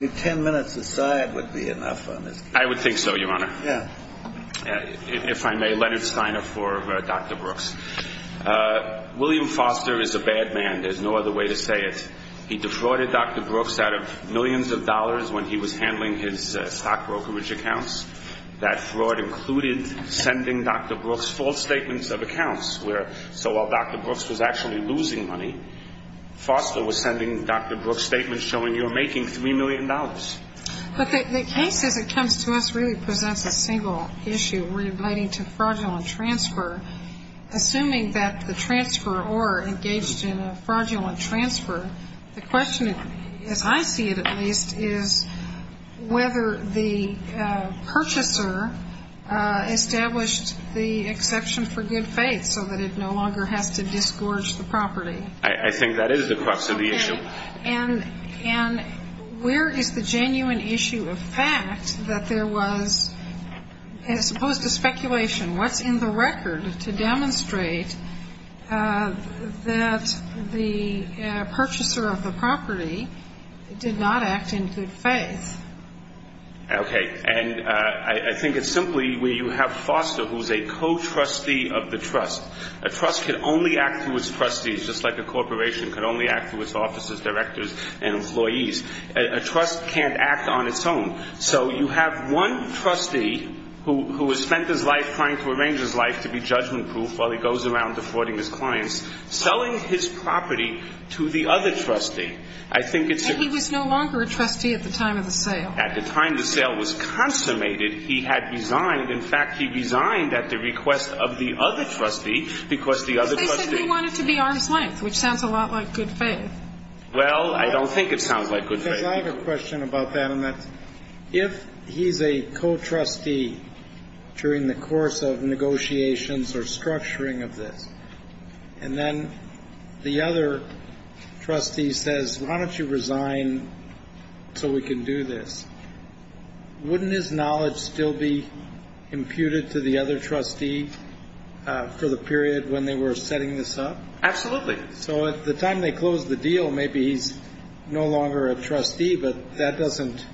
The ten minutes aside would be enough on this case. I would think so, Your Honor. Yeah. If I may, Leonard Steiner for Dr. Brooks. William Foster is a bad man, there's no other way to say it. He defrauded Dr. Brooks out of millions of dollars when he was handling his stock brokerage accounts. That fraud included sending Dr. Brooks false statements of accounts where, so while Dr. Brooks was actually losing money, Foster was sending Dr. Brooks statements showing you were making $3 million. But the case, as it comes to us, really presents a single issue relating to fraudulent transfer. Assuming that the transferor engaged in a fraudulent transfer, the question, as I see it at least, is whether the purchaser established the exception for good faith so that it no longer has to disgorge the property. I think that is the crux of the issue. And where is the genuine issue of fact that there was, as opposed to speculation, what's in the record to demonstrate that the purchaser of the property did not act in good faith? Okay. And I think it's simply where you have Foster, who is a co-trustee of the trust. A trust can only act through its trustees, just like a corporation can only act through its officers, directors, and employees. A trust can't act on its own. So you have one trustee who has spent his life trying to arrange his life to be judgment proof while he goes around defrauding his clients, selling his property to the other trustee. I think it's a ---- And he was no longer a trustee at the time of the sale. At the time the sale was consummated, he had resigned. In fact, he resigned at the request of the other trustee because the other trustee They said he wanted to be arm's length, which sounds a lot like good faith. Well, I don't think it sounds like good faith. Because I have a question about that, and that's if he's a co-trustee during the course of negotiations or structuring of this, and then the other trustee says, why don't you resign so we can do this? Wouldn't his knowledge still be imputed to the other trustee for the period when they were setting this up? Absolutely. So at the time they closed the deal, maybe he's no longer a trustee, but that doesn't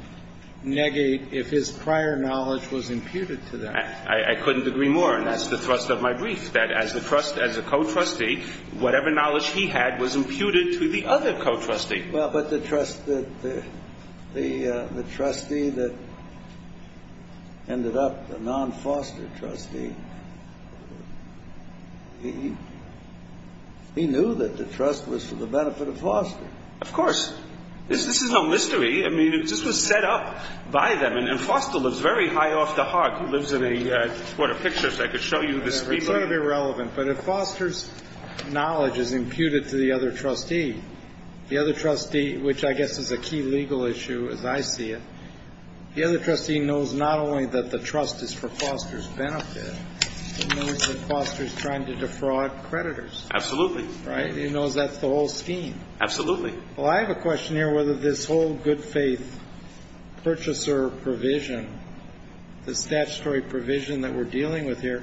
negate if his prior knowledge was imputed to them. I couldn't agree more, and that's the thrust of my brief, that as a trustee, as a co-trustee, whatever knowledge he had was imputed to the other co-trustee. Well, but the trustee that ended up a non-Foster trustee, he knew that the trust was for the benefit of Foster. Of course. This is no mystery. I mean, it just was set up by them. And Foster lives very high off the Hark. He lives in a sort of picture, so I could show you this. It's relatively irrelevant, but if Foster's knowledge is imputed to the other trustee, the other trustee, which I guess is a key legal issue as I see it, the other trustee knows not only that the trust is for Foster's benefit, he knows that Foster's trying to defraud creditors. Absolutely. Right? He knows that's the whole scheme. Absolutely. Well, I have a question here whether this whole good faith purchaser provision, the statutory provision that we're dealing with here,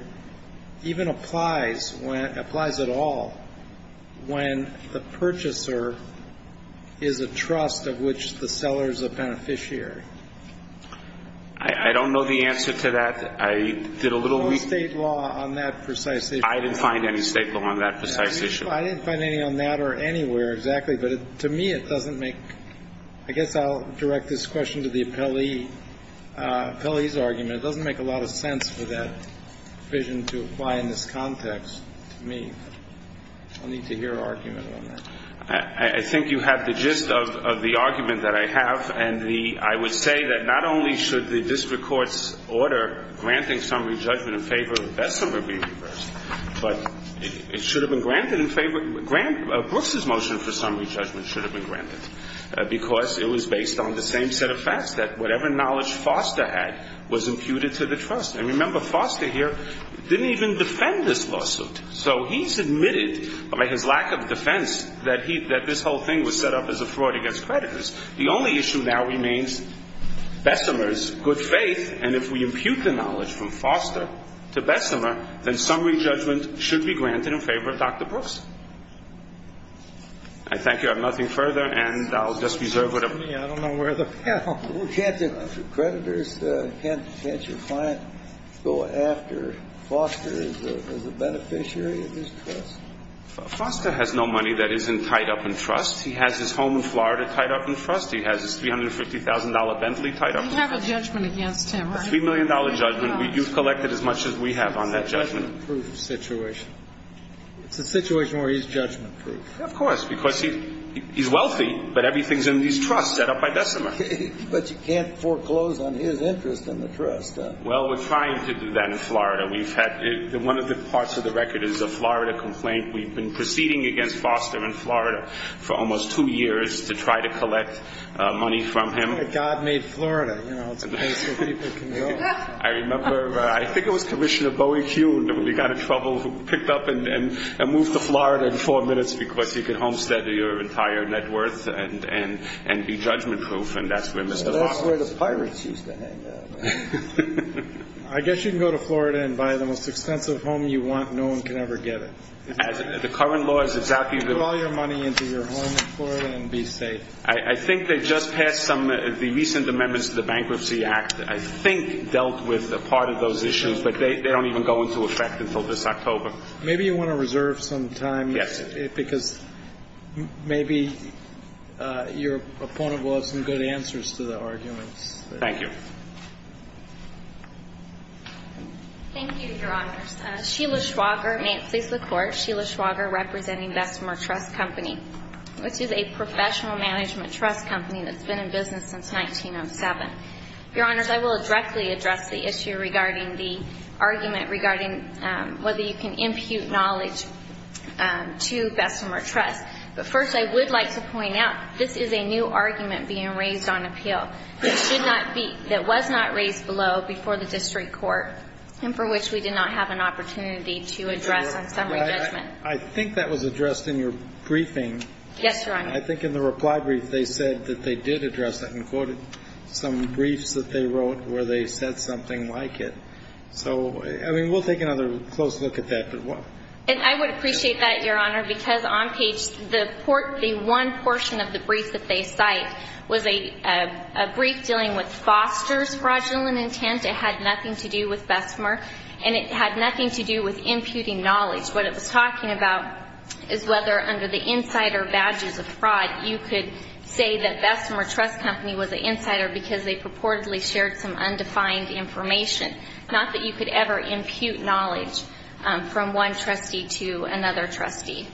even applies when, applies at all, when the purchaser is a trust of which the seller is a beneficiary. I don't know the answer to that. I did a little reading. There's no state law on that precise issue. I didn't find any state law on that precise issue. I didn't find any on that or anywhere exactly, but to me it doesn't make, I guess I'll direct this question to the appellee, the appellee's argument, it doesn't make a lot of sense for that provision to apply in this context to me. I'll need to hear an argument on that. I think you have the gist of the argument that I have and the, I would say that not only should the district court's order granting summary judgment in favor of Bessemer be reversed, but it should have been granted in favor, Brooks's motion for summary judgment should have been granted because it was based on the same set of facts that whatever knowledge Foster had was imputed to the trust. And remember Foster here didn't even defend this lawsuit. So he's admitted by his lack of defense that he, that this whole thing was set up as a fraud against creditors. The only issue now remains Bessemer's good faith. And if we impute the knowledge from Foster to Bessemer, then summary judgment should be granted in favor of Dr. Brooks. I thank you. I have nothing further, and I'll just reserve whatever. I don't know where the panel is. Can't the creditors, can't your client go after Foster as a beneficiary of this trust? Foster has no money that isn't tied up in trust. He has his home in Florida tied up in trust. He has his $350,000 Bentley tied up in trust. We have a judgment against him, right? A $3 million judgment. You've collected as much as we have on that judgment. It's a judgment-proof situation. It's a situation where he's judgment-proof. Of course, because he's wealthy, but everything's in his trust set up by Bessemer. But you can't foreclose on his interest in the trust. Well, we're trying to do that in Florida. One of the parts of the record is a Florida complaint. We've been proceeding against Foster in Florida for almost two years to try to collect money from him. God made Florida. It's a place where people can go. I remember, I think it was Commissioner Bowie-Hugh, we got in trouble, who picked up and moved to Florida in four minutes because he could homestead your entire net worth and be judgment-proof, and that's where Mr. Foster is. That's where the pirates used to hang out. I guess you can go to Florida and buy the most expensive home you want. No one can ever get it. The current law is exactly that. Put all your money into your home in Florida and be safe. I think they just passed some of the recent amendments to the Bankruptcy Act, I think dealt with a part of those issues, but they don't even go into effect until this October. Maybe you want to reserve some time. Yes. Because maybe your opponent will have some good answers to the arguments. Thank you. Thank you, Your Honors. Sheila Schwager, may it please the Court. Sheila Schwager representing Vestmer Trust Company, which is a professional management trust company that's been in business since 1907. Your Honors, I will directly address the issue regarding the argument regarding whether you can impute knowledge to Vestmer Trust, but first I would like to point out this is a new argument being raised on appeal that was not raised below before the district court and for which we did not have an opportunity to address on summary judgment. I think that was addressed in your briefing. Yes, Your Honor. I think in the reply brief they said that they did address that and quoted some briefs that they wrote where they said something like it. So, I mean, we'll take another close look at that. And I would appreciate that, Your Honor, because on page the one portion of the brief that they cite was a brief dealing with Foster's fraudulent intent. It had nothing to do with Vestmer and it had nothing to do with imputing knowledge. What it was talking about is whether under the insider badges of fraud you could say that Vestmer Trust Company was an insider because they purportedly shared some undefined information, not that you could ever impute knowledge from one trustee to another trustee.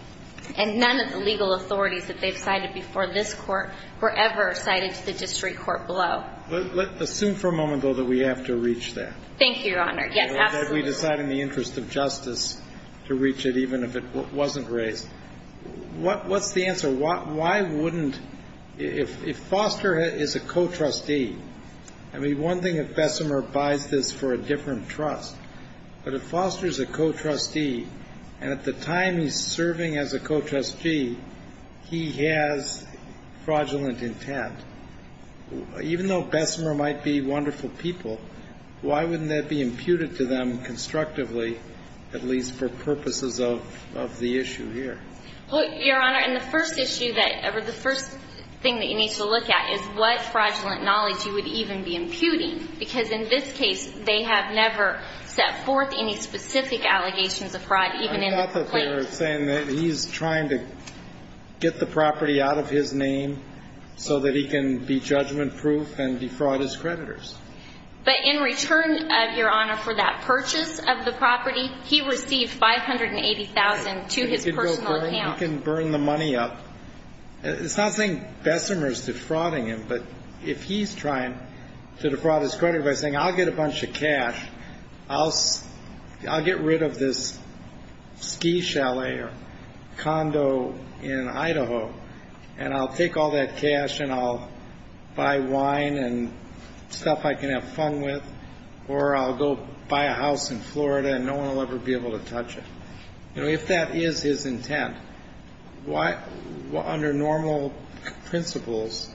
And none of the legal authorities that they've cited before this court were ever cited to the district court below. Let's assume for a moment, though, that we have to reach that. Thank you, Your Honor. Yes, absolutely. We have to decide in the interest of justice to reach it even if it wasn't raised. What's the answer? Why wouldn't – if Foster is a co-trustee – I mean, one thing if Vestmer buys this for a different trust, but if Foster is a co-trustee and at the time he's serving as a co-trustee, he has fraudulent intent, even though Vestmer might be wonderful people, why wouldn't that be imputed to them constructively, at least for purposes of the issue here? Well, Your Honor, and the first issue that – or the first thing that you need to look at is what fraudulent knowledge you would even be imputing because in this case they have never set forth any specific allegations of fraud, even in the complaint. I thought that they were saying that he's trying to get the property out of his name so that he can be judgment-proof and defraud his creditors. But in return, Your Honor, for that purchase of the property, he received $580,000 to his personal account. He can burn the money up. It's not saying Vestmer is defrauding him, but if he's trying to defraud his creditors by saying, I'll get a bunch of cash, I'll get rid of this ski chalet or condo in Idaho, and I'll take all that cash and I'll buy wine and stuff I can have fun with, or I'll go buy a house in Florida and no one will ever be able to touch it. You know, if that is his intent, why – under normal principles,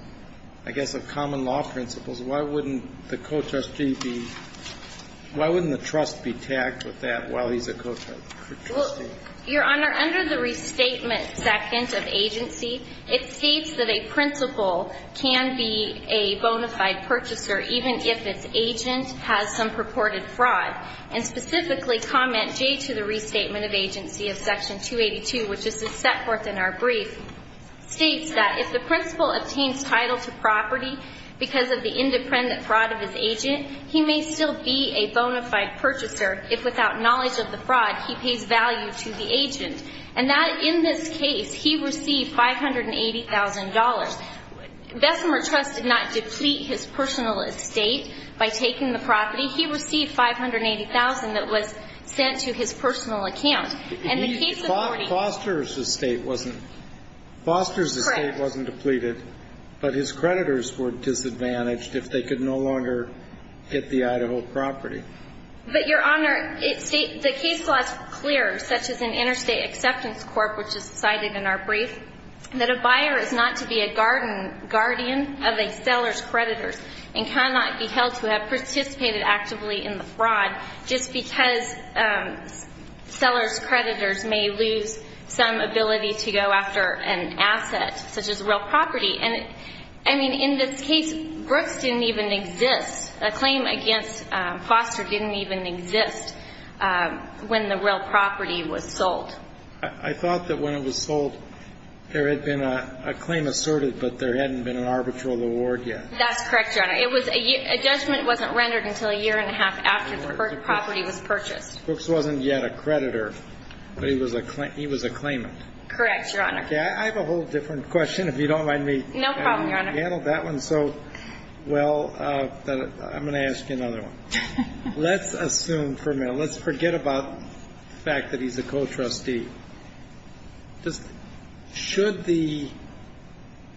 I guess the common law principles, why wouldn't the co-trustee be – why wouldn't the trust be tagged with that while he's a co-trustee? Well, Your Honor, under the Restatement Second of Agency, it states that a principal can be a bona fide purchaser even if its agent has some purported fraud. And specifically, Comment J to the Restatement of Agency of Section 282, which is the set forth in our brief, states that if the principal obtains title to property because of the independent fraud of his agent, he may still be a bona fide purchaser if, without knowledge of the fraud, he pays value to the agent. And that – in this case, he received $580,000. Bessemer Trust did not deplete his personal estate by taking the property. He received $580,000 that was sent to his personal account. And the case authority – Foster's estate wasn't – Foster's estate wasn't depleted, but his creditors were disadvantaged if they could no longer get the Idaho property. But, Your Honor, the case law is clear, such as in Interstate Acceptance Corp., which is cited in our brief, that a buyer is not to be a guardian of a seller's creditors and cannot be held to have participated actively in the fraud just because seller's creditors may lose some ability to go after an asset, such as real property. And, I mean, in this case, Brooks didn't even exist. A claim against Foster didn't even exist when the real property was sold. I thought that when it was sold, there had been a claim asserted, but there hadn't been an arbitral award yet. That's correct, Your Honor. It was – a judgment wasn't rendered until a year and a half after the property was purchased. Brooks wasn't yet a creditor, but he was a claimant. Correct, Your Honor. Okay. I have a whole different question, if you don't mind me – No problem, Your Honor. You handled that one so well that I'm going to ask you another one. Let's assume for a minute, let's forget about the fact that he's a co-trustee. Just should the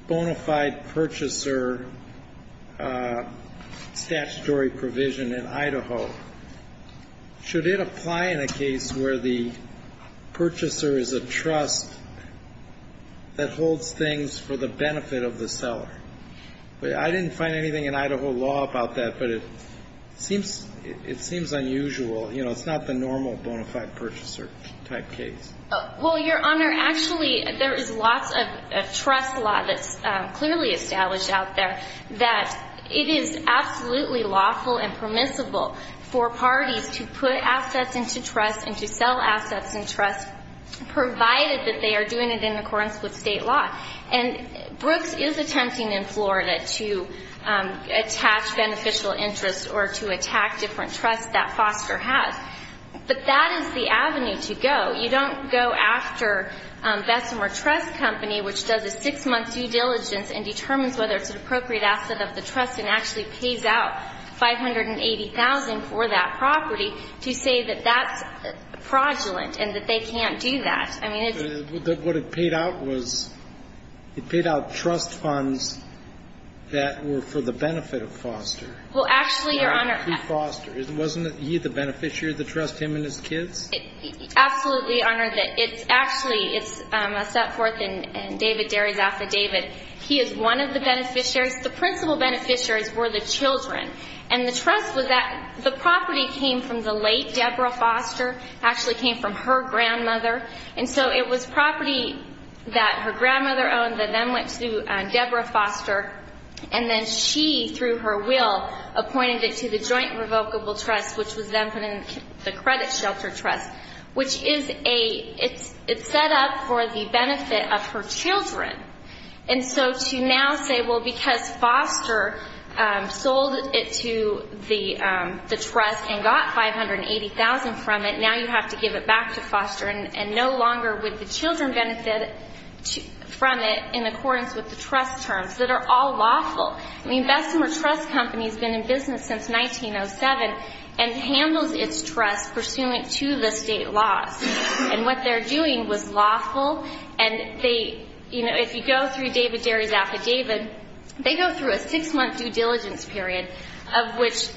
bona fide purchaser statutory provision in Idaho, should it apply in a case where the purchaser is a trust that holds things for the benefit of the seller? I didn't find anything in Idaho law about that, but it seems unusual. You know, it's not the normal bona fide purchaser type case. Well, Your Honor, actually, there is lots of trust law that's clearly established out there that it is absolutely lawful and permissible for parties to put assets into trust and to sell assets in trust, provided that they are doing it in accordance with state law. And Brooks is attempting in Florida to attach beneficial interest or to attack different trusts that Foster has. But that is the avenue to go. You don't go after Bessemer Trust Company, which does a six-month due diligence and determines whether it's an appropriate asset of the trust and actually pays out $580,000 for that property, to say that that's fraudulent and that they can't do that. But what it paid out was it paid out trust funds that were for the benefit of Foster. Well, actually, Your Honor. Foster. Wasn't he the beneficiary of the trust, him and his kids? Absolutely, Your Honor. Actually, it's set forth in David Derry's affidavit. He is one of the beneficiaries. The principal beneficiaries were the children. And the trust was that the property came from the late Deborah Foster. It actually came from her grandmother. And so it was property that her grandmother owned that then went to Deborah Foster, and then she, through her will, appointed it to the Joint Revocable Trust, which was then put in the Credit Shelter Trust, which is a – it's set up for the benefit of her children. And so to now say, well, because Foster sold it to the trust and got $580,000 from it, now you have to give it back to Foster and no longer would the children benefit from it in accordance with the trust terms, that are all lawful. I mean, Bessemer Trust Company has been in business since 1907 and handles its trust pursuant to the state laws. And what they're doing was lawful. And they – if you go through David Derry's affidavit, they go through a six-month due diligence period of which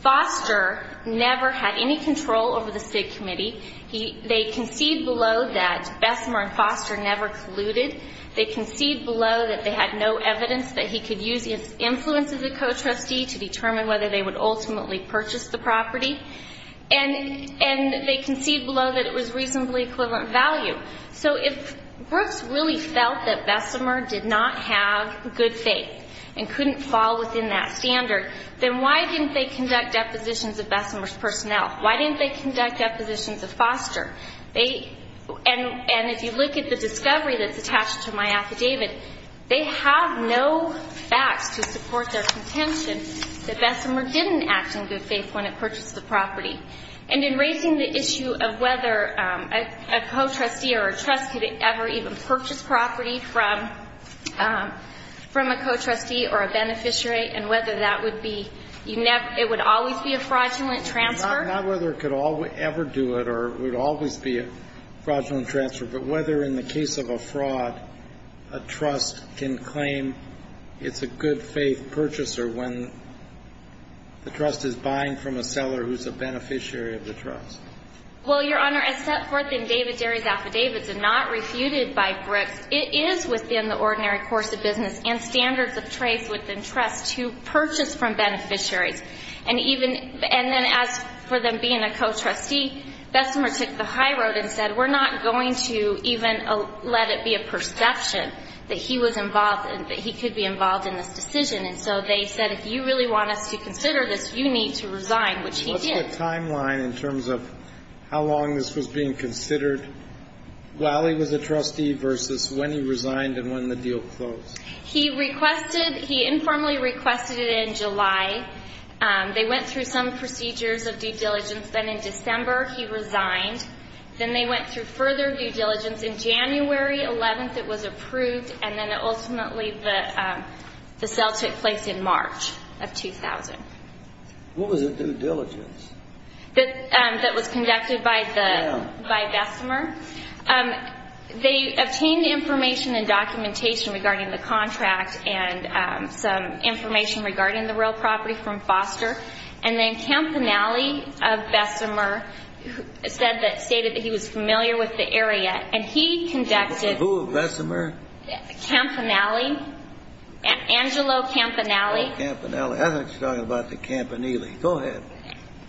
Foster never had any control over the State Committee. They concede below that Bessemer and Foster never colluded. They concede below that they had no evidence that he could use his influence as a co-trustee to determine whether they would ultimately purchase the property. And they concede below that it was reasonably equivalent value. So if Brooks really felt that Bessemer did not have good faith and couldn't fall within that standard, then why didn't they conduct depositions of Bessemer's personnel? Why didn't they conduct depositions of Foster? And if you look at the discovery that's attached to my affidavit, they have no facts to support their contention that Bessemer didn't act in good faith when it purchased the property. And in raising the issue of whether a co-trustee or a trust could ever even purchase property from a co-trustee or a beneficiary and whether that would be, it would always be a fraudulent transfer. Not whether it could ever do it or it would always be a fraudulent transfer, but whether in the case of a fraud a trust can claim it's a good faith purchaser when the trust is buying from a seller who's a beneficiary of the trust. Well, Your Honor, as set forth in David Derry's affidavits and not refuted by Brooks, it is within the ordinary course of business and standards of trace within trusts to purchase from beneficiaries. And even as for them being a co-trustee, Bessemer took the high road and said we're not going to even let it be a perception that he was involved and that he could be involved in this decision. And so they said if you really want us to consider this, you need to resign, which he did. What's the timeline in terms of how long this was being considered? While he was a trustee versus when he resigned and when the deal closed. He requested, he informally requested it in July. They went through some procedures of due diligence. Then in December he resigned. Then they went through further due diligence. In January 11th it was approved, and then ultimately the sale took place in March of 2000. What was the due diligence? That was conducted by Bessemer. They obtained information and documentation regarding the contract and some information regarding the real property from Foster. And then Campanelli of Bessemer said that, stated that he was familiar with the area. And he conducted. Who of Bessemer? Campanelli, Angelo Campanelli. I thought you were talking about the Campanelli. Go ahead.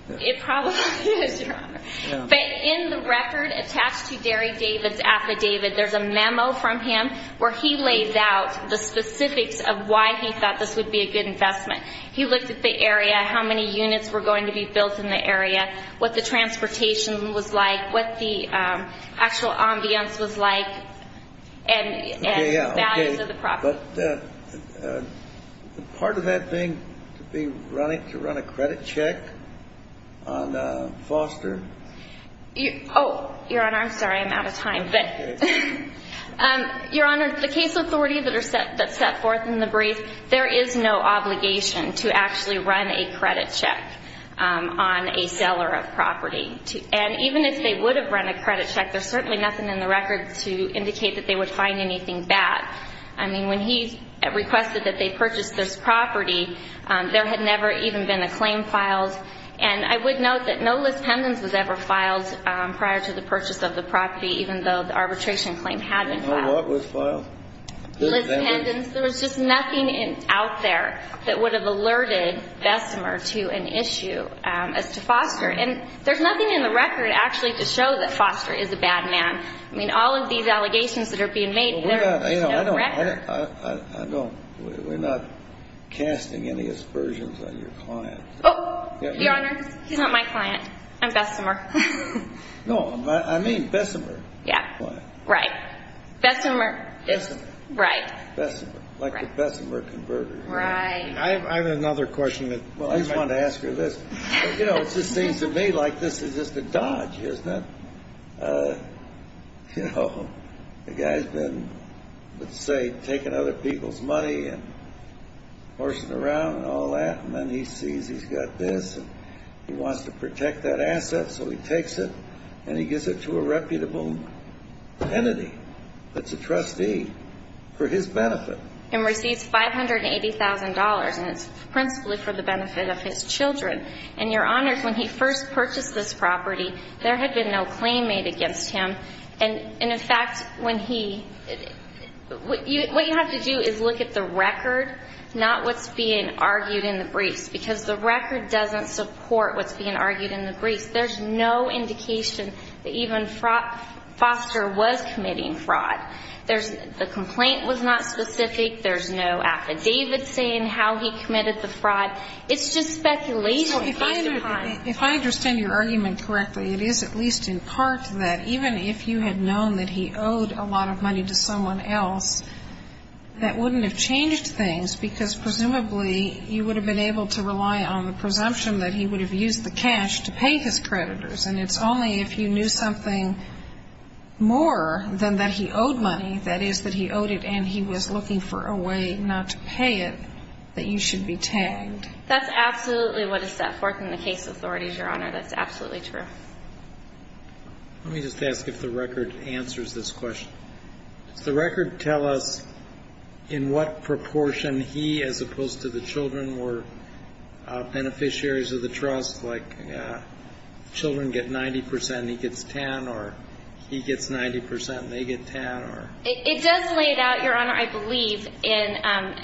It probably is, Your Honor. But in the record attached to Derry David's affidavit, there's a memo from him where he lays out the specifics of why he thought this would be a good investment. He looked at the area, how many units were going to be built in the area, what the transportation was like, what the actual ambience was like, and the values of the property. But part of that being to run a credit check on Foster? Oh, Your Honor, I'm sorry. I'm out of time. Your Honor, the case authority that's set forth in the brief, there is no obligation to actually run a credit check on a seller of property. And even if they would have run a credit check, there's certainly nothing in the record to indicate that they would find anything bad. I mean, when he requested that they purchase this property, there had never even been a claim filed. And I would note that no list pendants was ever filed prior to the purchase of the property, even though the arbitration claim had been filed. No what was filed? List pendants. List pendants. There was just nothing out there that would have alerted Bessemer to an issue as to Foster. And there's nothing in the record actually to show that Foster is a bad man. I mean, all of these allegations that are being made, there is no record. We're not casting any aspersions on your client. Oh, Your Honor, he's not my client. I'm Bessemer. No, I mean Bessemer. Yeah, right. Bessemer. Bessemer. Right. Bessemer, like a Bessemer converter. Right. I have another question that I just wanted to ask her this. You know, it just seems to me like this is just a dodge, isn't it? You know, the guy's been, let's say, taking other people's money and horsing around and all that, and then he sees he's got this and he wants to protect that asset, so he takes it and he gives it to a reputable entity that's a trustee for his benefit. And receives $580,000, and it's principally for the benefit of his children. And, Your Honor, when he first purchased this property, there had been no claim made against him. And, in fact, when he – what you have to do is look at the record, not what's being argued in the briefs, because the record doesn't support what's being argued in the briefs. There's no indication that even Foster was committing fraud. The complaint was not specific. There's no affidavit saying how he committed the fraud. It's just speculation. Well, if I understand your argument correctly, it is at least in part that even if you had known that he owed a lot of money to someone else, that wouldn't have changed things, because presumably you would have been able to rely on the presumption that he would have used the cash to pay his creditors. And it's only if you knew something more than that he owed money, that is, that he owed it and he was looking for a way not to pay it, that you should be tagged. That's absolutely what is set forth in the case authorities, Your Honor. That's absolutely true. Let me just ask if the record answers this question. Does the record tell us in what proportion he, as opposed to the children, were beneficiaries of the trust? Like children get 90 percent and he gets 10, or he gets 90 percent and they get 10? It does lay it out, Your Honor, I believe, in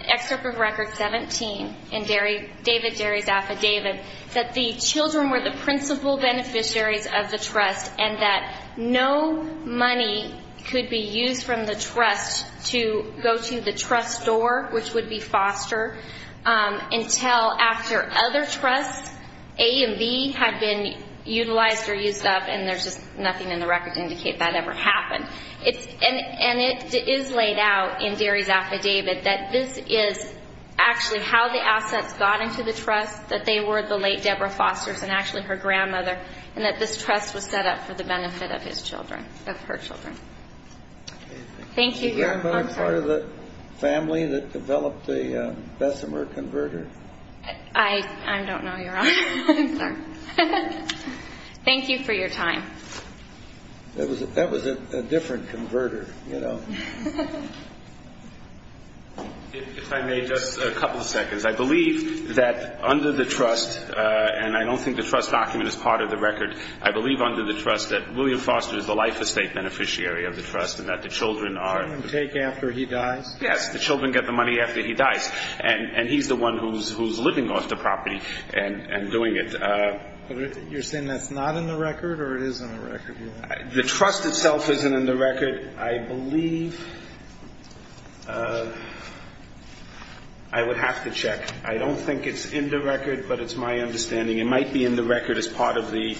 Excerpt of Record 17 in David Derry's affidavit, that the children were the principal beneficiaries of the trust and that no money could be used from the trust to go to the trust store, which would be foster, until after other trusts, A and B, had been utilized or used up, and there's just nothing in the record to indicate that ever happened. And it is laid out in Derry's affidavit that this is actually how the assets got into the trust, that they were the late Deborah Foster's and actually her grandmother, and that this trust was set up for the benefit of his children, of her children. Thank you, Your Honor. Was your grandmother part of the family that developed the Bessemer converter? I don't know, Your Honor. I'm sorry. Thank you for your time. That was a different converter, you know. If I may, just a couple of seconds. I believe that under the trust, and I don't think the trust document is part of the record, I believe under the trust that William Foster is the life estate beneficiary of the trust and that the children are... The children take after he dies? Yes, the children get the money after he dies, and he's the one who's living off the property and doing it. You're saying that's not in the record, or it is in the record? The trust itself isn't in the record. I believe I would have to check. I don't think it's in the record, but it's my understanding. It might be in the record as part of the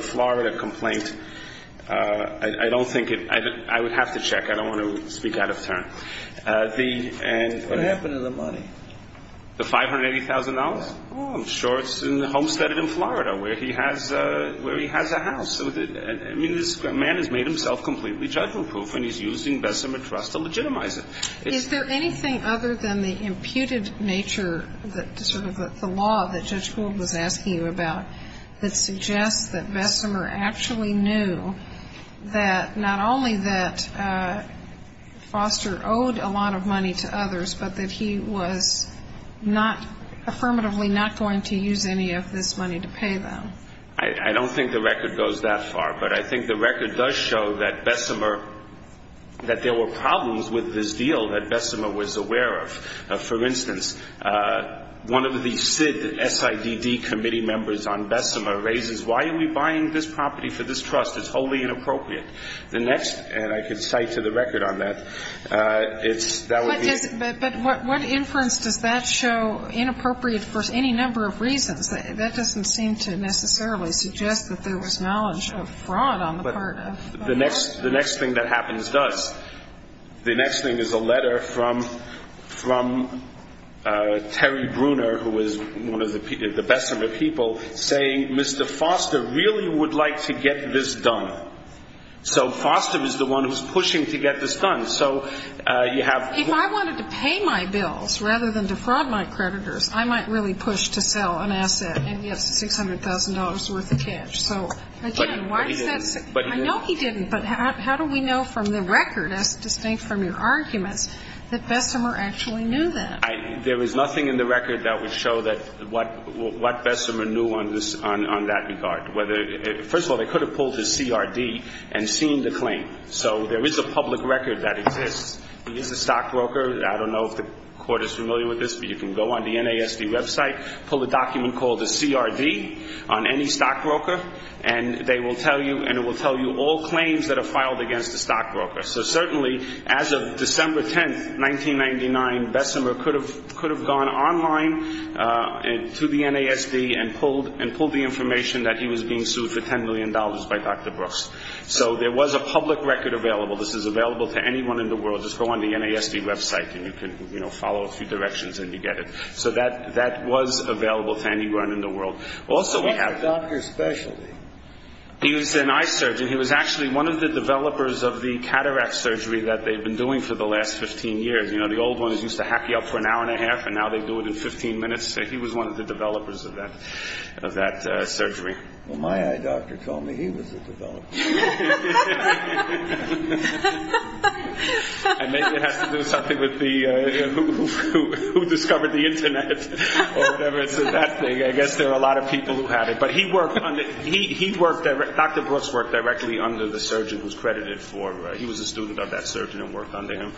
Florida complaint. I don't think it... I would have to check. I don't want to speak out of turn. What happened to the money? The $580,000? Oh, I'm sure it's homesteaded in Florida where he has a house. I mean, this man has made himself completely judgment-proof, and he's using Bessemer Trust to legitimize it. Is there anything other than the imputed nature that sort of the law that Judge Gould was asking you about that suggests that Bessemer actually knew that not only that Foster owed a lot of money to others, but that he was affirmatively not going to use any of this money to pay them? I don't think the record goes that far, but I think the record does show that Bessemer... that there were problems with this deal that Bessemer was aware of. For instance, one of the SID committee members on Bessemer raises, why are we buying this property for this trust? It's wholly inappropriate. The next... and I could cite to the record on that. But what inference does that show inappropriate for any number of reasons? That doesn't seem to necessarily suggest that there was knowledge of fraud on the part of Bessemer. The next thing that happens does. The next thing is a letter from Terry Bruner, who was one of the Bessemer people, saying Mr. Foster really would like to get this done. So Foster is the one who's pushing to get this done. So you have... If I wanted to pay my bills rather than defraud my creditors, I might really push to sell an asset and get $600,000 worth of cash. So again, why is that... But he didn't. I know he didn't, but how do we know from the record, as distinct from your arguments, that Bessemer actually knew that? There is nothing in the record that would show what Bessemer knew on that regard. First of all, they could have pulled his CRD and seen the claim. So there is a public record that exists. He is a stockbroker. I don't know if the Court is familiar with this, but you can go on the NASD website, pull a document called a CRD on any stockbroker, and it will tell you all claims that are filed against the stockbroker. So certainly, as of December 10, 1999, Bessemer could have gone online to the NASD and pulled the information that he was being sued for $10 million by Dr. Brooks. So there was a public record available. This is available to anyone in the world. Just go on the NASD website and you can follow a few directions and you get it. So that was available to anyone in the world. What's the doctor's specialty? He was an eye surgeon. He was actually one of the developers of the cataract surgery that they've been doing for the last 15 years. The old ones used to hack you up for an hour and a half, and now they do it in 15 minutes. He was one of the developers of that surgery. Well, my eye doctor told me he was the developer. And maybe it has to do something with who discovered the Internet or whatever. I guess there are a lot of people who have it. But Dr. Brooks worked directly under the surgeon who's credited for it. He was a student of that surgeon and worked under him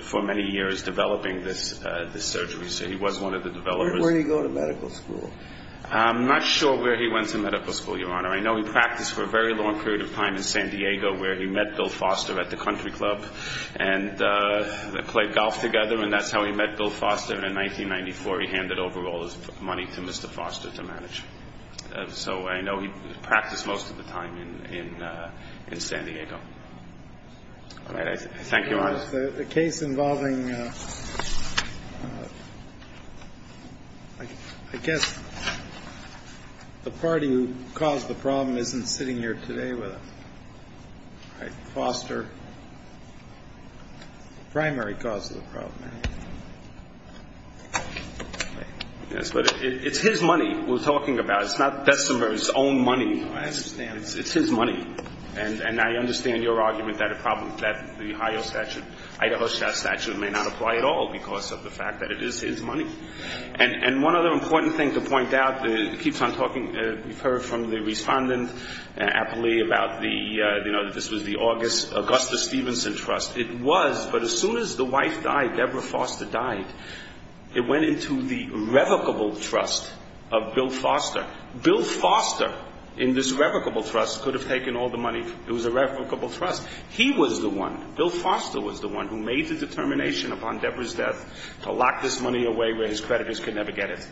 for many years developing this surgery. So he was one of the developers. Where did he go to medical school? I'm not sure where he went to medical school, Your Honor. I know he practiced for a very long period of time in San Diego where he met Bill Foster at the country club and played golf together. And that's how he met Bill Foster. And in 1994, he handed over all his money to Mr. Foster to manage. So I know he practiced most of the time in San Diego. Thank you. Your Honor, the case involving, I guess, the party who caused the problem isn't sitting here today with us. Foster, primary cause of the problem. Yes, but it's his money we're talking about. It's not Destler's own money. I understand. It's his money. And I understand your argument that the Ohio statute, Idaho statute may not apply at all because of the fact that it is his money. And one other important thing to point out that keeps on talking, we've heard from the respondent aptly about the, you know, that this was the August Augustus Stevenson Trust. It was, but as soon as the wife died, Deborah Foster died, it went into the irrevocable trust of Bill Foster. Bill Foster, in this irrevocable trust, could have taken all the money. It was a revocable trust. He was the one, Bill Foster was the one who made the determination upon Deborah's death to lock this money away where his creditors could never get it.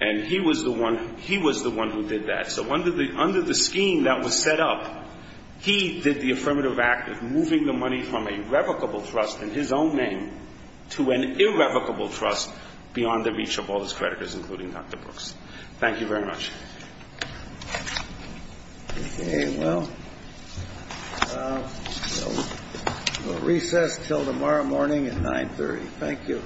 And he was the one, he was the one who did that. So under the scheme that was set up, he did the affirmative act of moving the money from a revocable trust in his own name to an irrevocable trust beyond the reach of all his creditors, including Dr. Brooks. Thank you very much. Well, we'll recess till tomorrow morning at 930. Thank you. Thank you. Thank you.